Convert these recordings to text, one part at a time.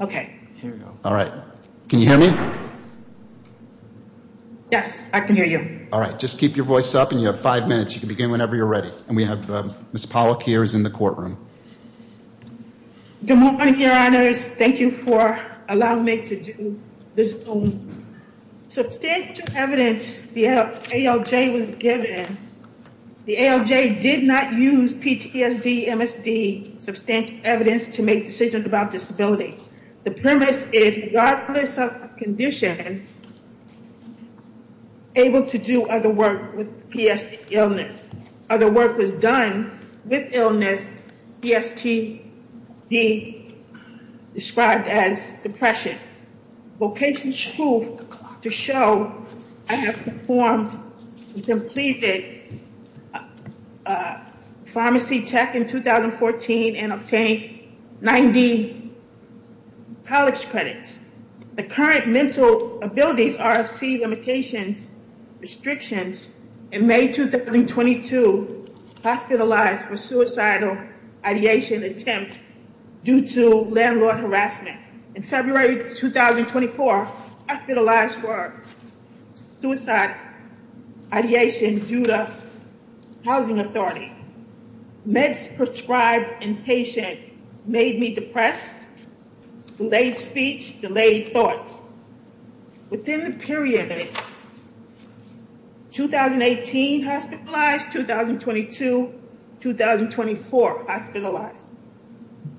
Okay. All right. Can you hear me? Yes, I can hear you. All right. Just keep your voice up and you have five minutes. You can begin whenever you're ready. And we have Ms. Pollock here is in the courtroom. Good morning, Your Honors. Thank you for allowing me to do this Zoom. Substantial evidence the ALJ was given, the ALJ did not use PTSD, MSD, substantial evidence to make decisions about disability. The premise is regardless of condition, able to do other work with PST illness. Other work was done with illness, PSTD described as depression. Vocational school to show I have performed and completed pharmacy tech in 2014 and obtained 90 college credits. The current mental abilities are C limitations, restrictions in May 2022 hospitalized for suicidal ideation attempt due to landlord harassment. In February 2024, hospitalized for suicide ideation due to housing authority. Meds prescribed inpatient made me in 2022, 2024, hospitalized.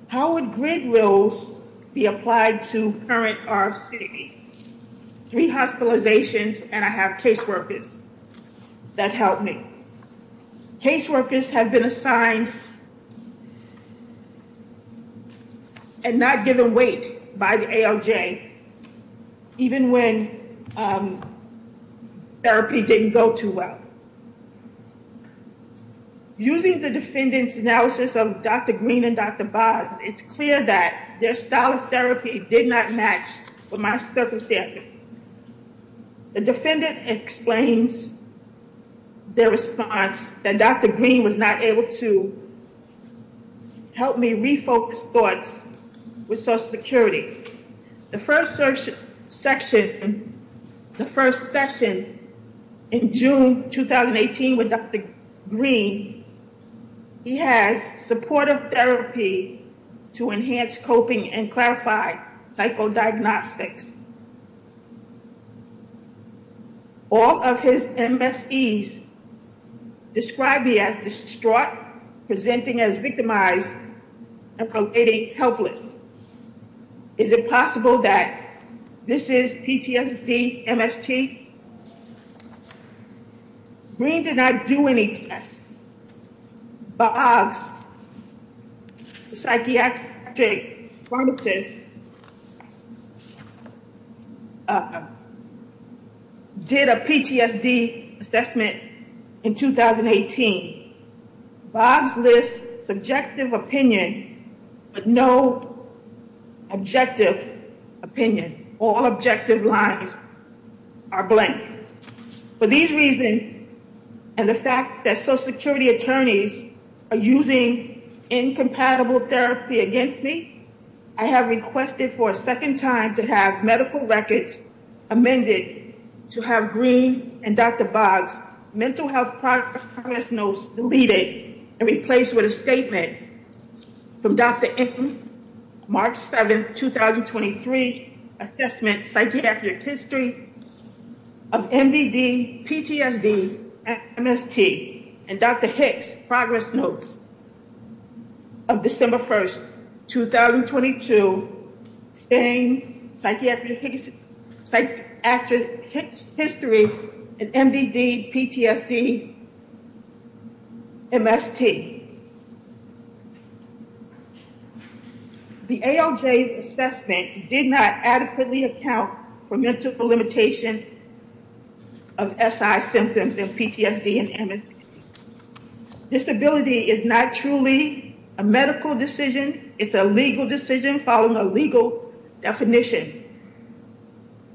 How would grid rules be applied to current RFCD? Three hospitalizations and I have caseworkers that helped me. Caseworkers have been assigned and not given weight by using the defendant's analysis of Dr. Green and Dr. Bonds. It's clear that their style of therapy did not match with my circumstance. The defendant explains their response that Dr. Green was not able to help me refocus thoughts with social security. The first search section, the first session in June 2018 with Dr. Green, he has supportive therapy to enhance coping and clarify psychodiagnostics. All of his MSEs described me as distraught, presenting as victimized and proclaiming helpless. Is it possible that this is PTSD, MST? Green did not do any tests. Boggs, the psychiatric pharmacist, did a PTSD assessment in opinion. All objective lines are blank. For these reasons, and the fact that social security attorneys are using incompatible therapy against me, I have requested for a second time to have medical records amended to have Green and Dr. Boggs' mental health progress notes deleted and replaced with a statement from Dr. Ingram, March 7, 2023, Assessment Psychiatric History of MBD, PTSD, MST, and Dr. Hicks' progress notes of December 1, 2022, saying Psychiatric History of MBD, PTSD, MST. The ALJ's assessment did not adequately account for mental limitation of SI symptoms in addition.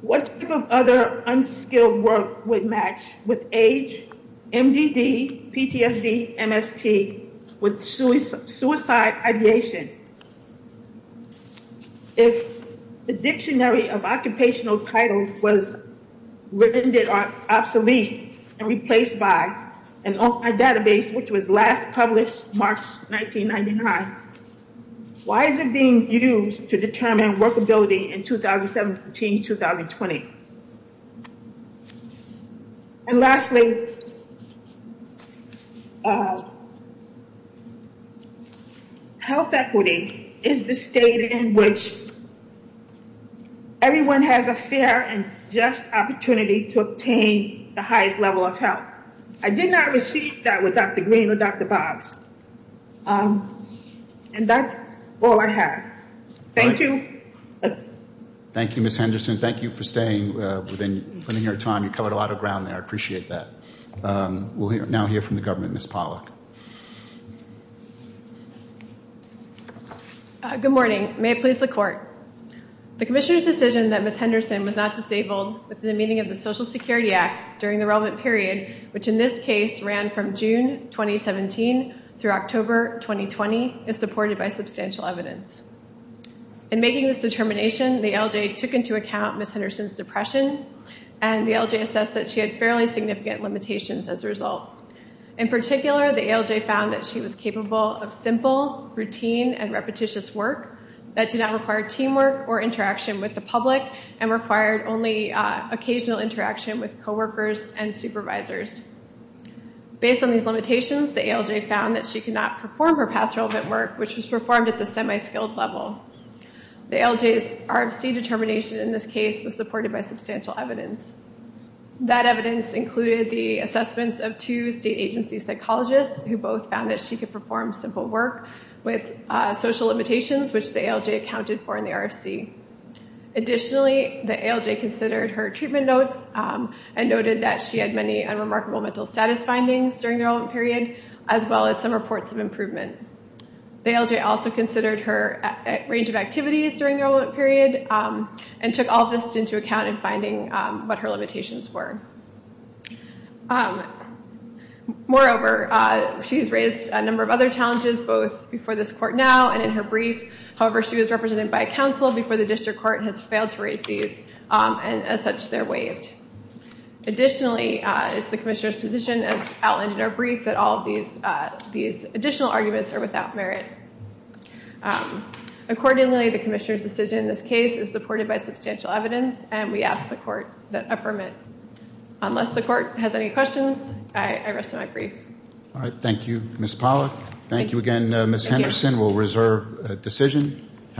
What type of other unskilled work would match with age, MBD, PTSD, MST, with suicide ideation? If the dictionary of occupational titles was rendered obsolete and replaced by an online database, which was last published March 1999, why is it being used to determine workability in 2017-2020? And lastly, health equity is the state in which everyone has a fair and just Thank you, Ms. Henderson. Thank you for staying within your time. You covered a lot of ground there. I appreciate that. We'll now hear from the government. Ms. Pollack. Good morning. May it please the Court. The Commissioner's decision that Ms. Henderson was not disabled within the meaning of the Social In making this determination, the ALJ took into account Ms. Henderson's depression, and the ALJ assessed that she had fairly significant limitations as a result. In particular, the ALJ found that she was capable of simple, routine, and repetitious work that did not require teamwork or interaction with the public and required only occasional interaction with coworkers and supervisors. Based on these limitations, the ALJ found that she could not perform her past relevant work, which was performed at the semi-skilled level. The ALJ's RFC determination in this case was supported by substantial evidence. That evidence included the assessments of two state agency psychologists who both found that she could perform simple work with social limitations, which the ALJ accounted for in the RFC. Additionally, the ALJ considered her treatment notes and reports of improvement. The ALJ also considered her range of activities during her period and took all this into account in finding what her limitations were. Moreover, she's raised a number of other challenges, both before this Court now and in her brief. However, she was represented by counsel before the District Court and has failed to raise these, and as such, they're waived. Additionally, it's the Commissioner's position, as additional arguments are without merit. Accordingly, the Commissioner's decision in this case is supported by substantial evidence, and we ask the Court that affirmative. Unless the Court has any questions, I rest my brief. All right. Thank you, Ms. Pollack. Thank you again, Ms. Henderson. We'll reserve decision.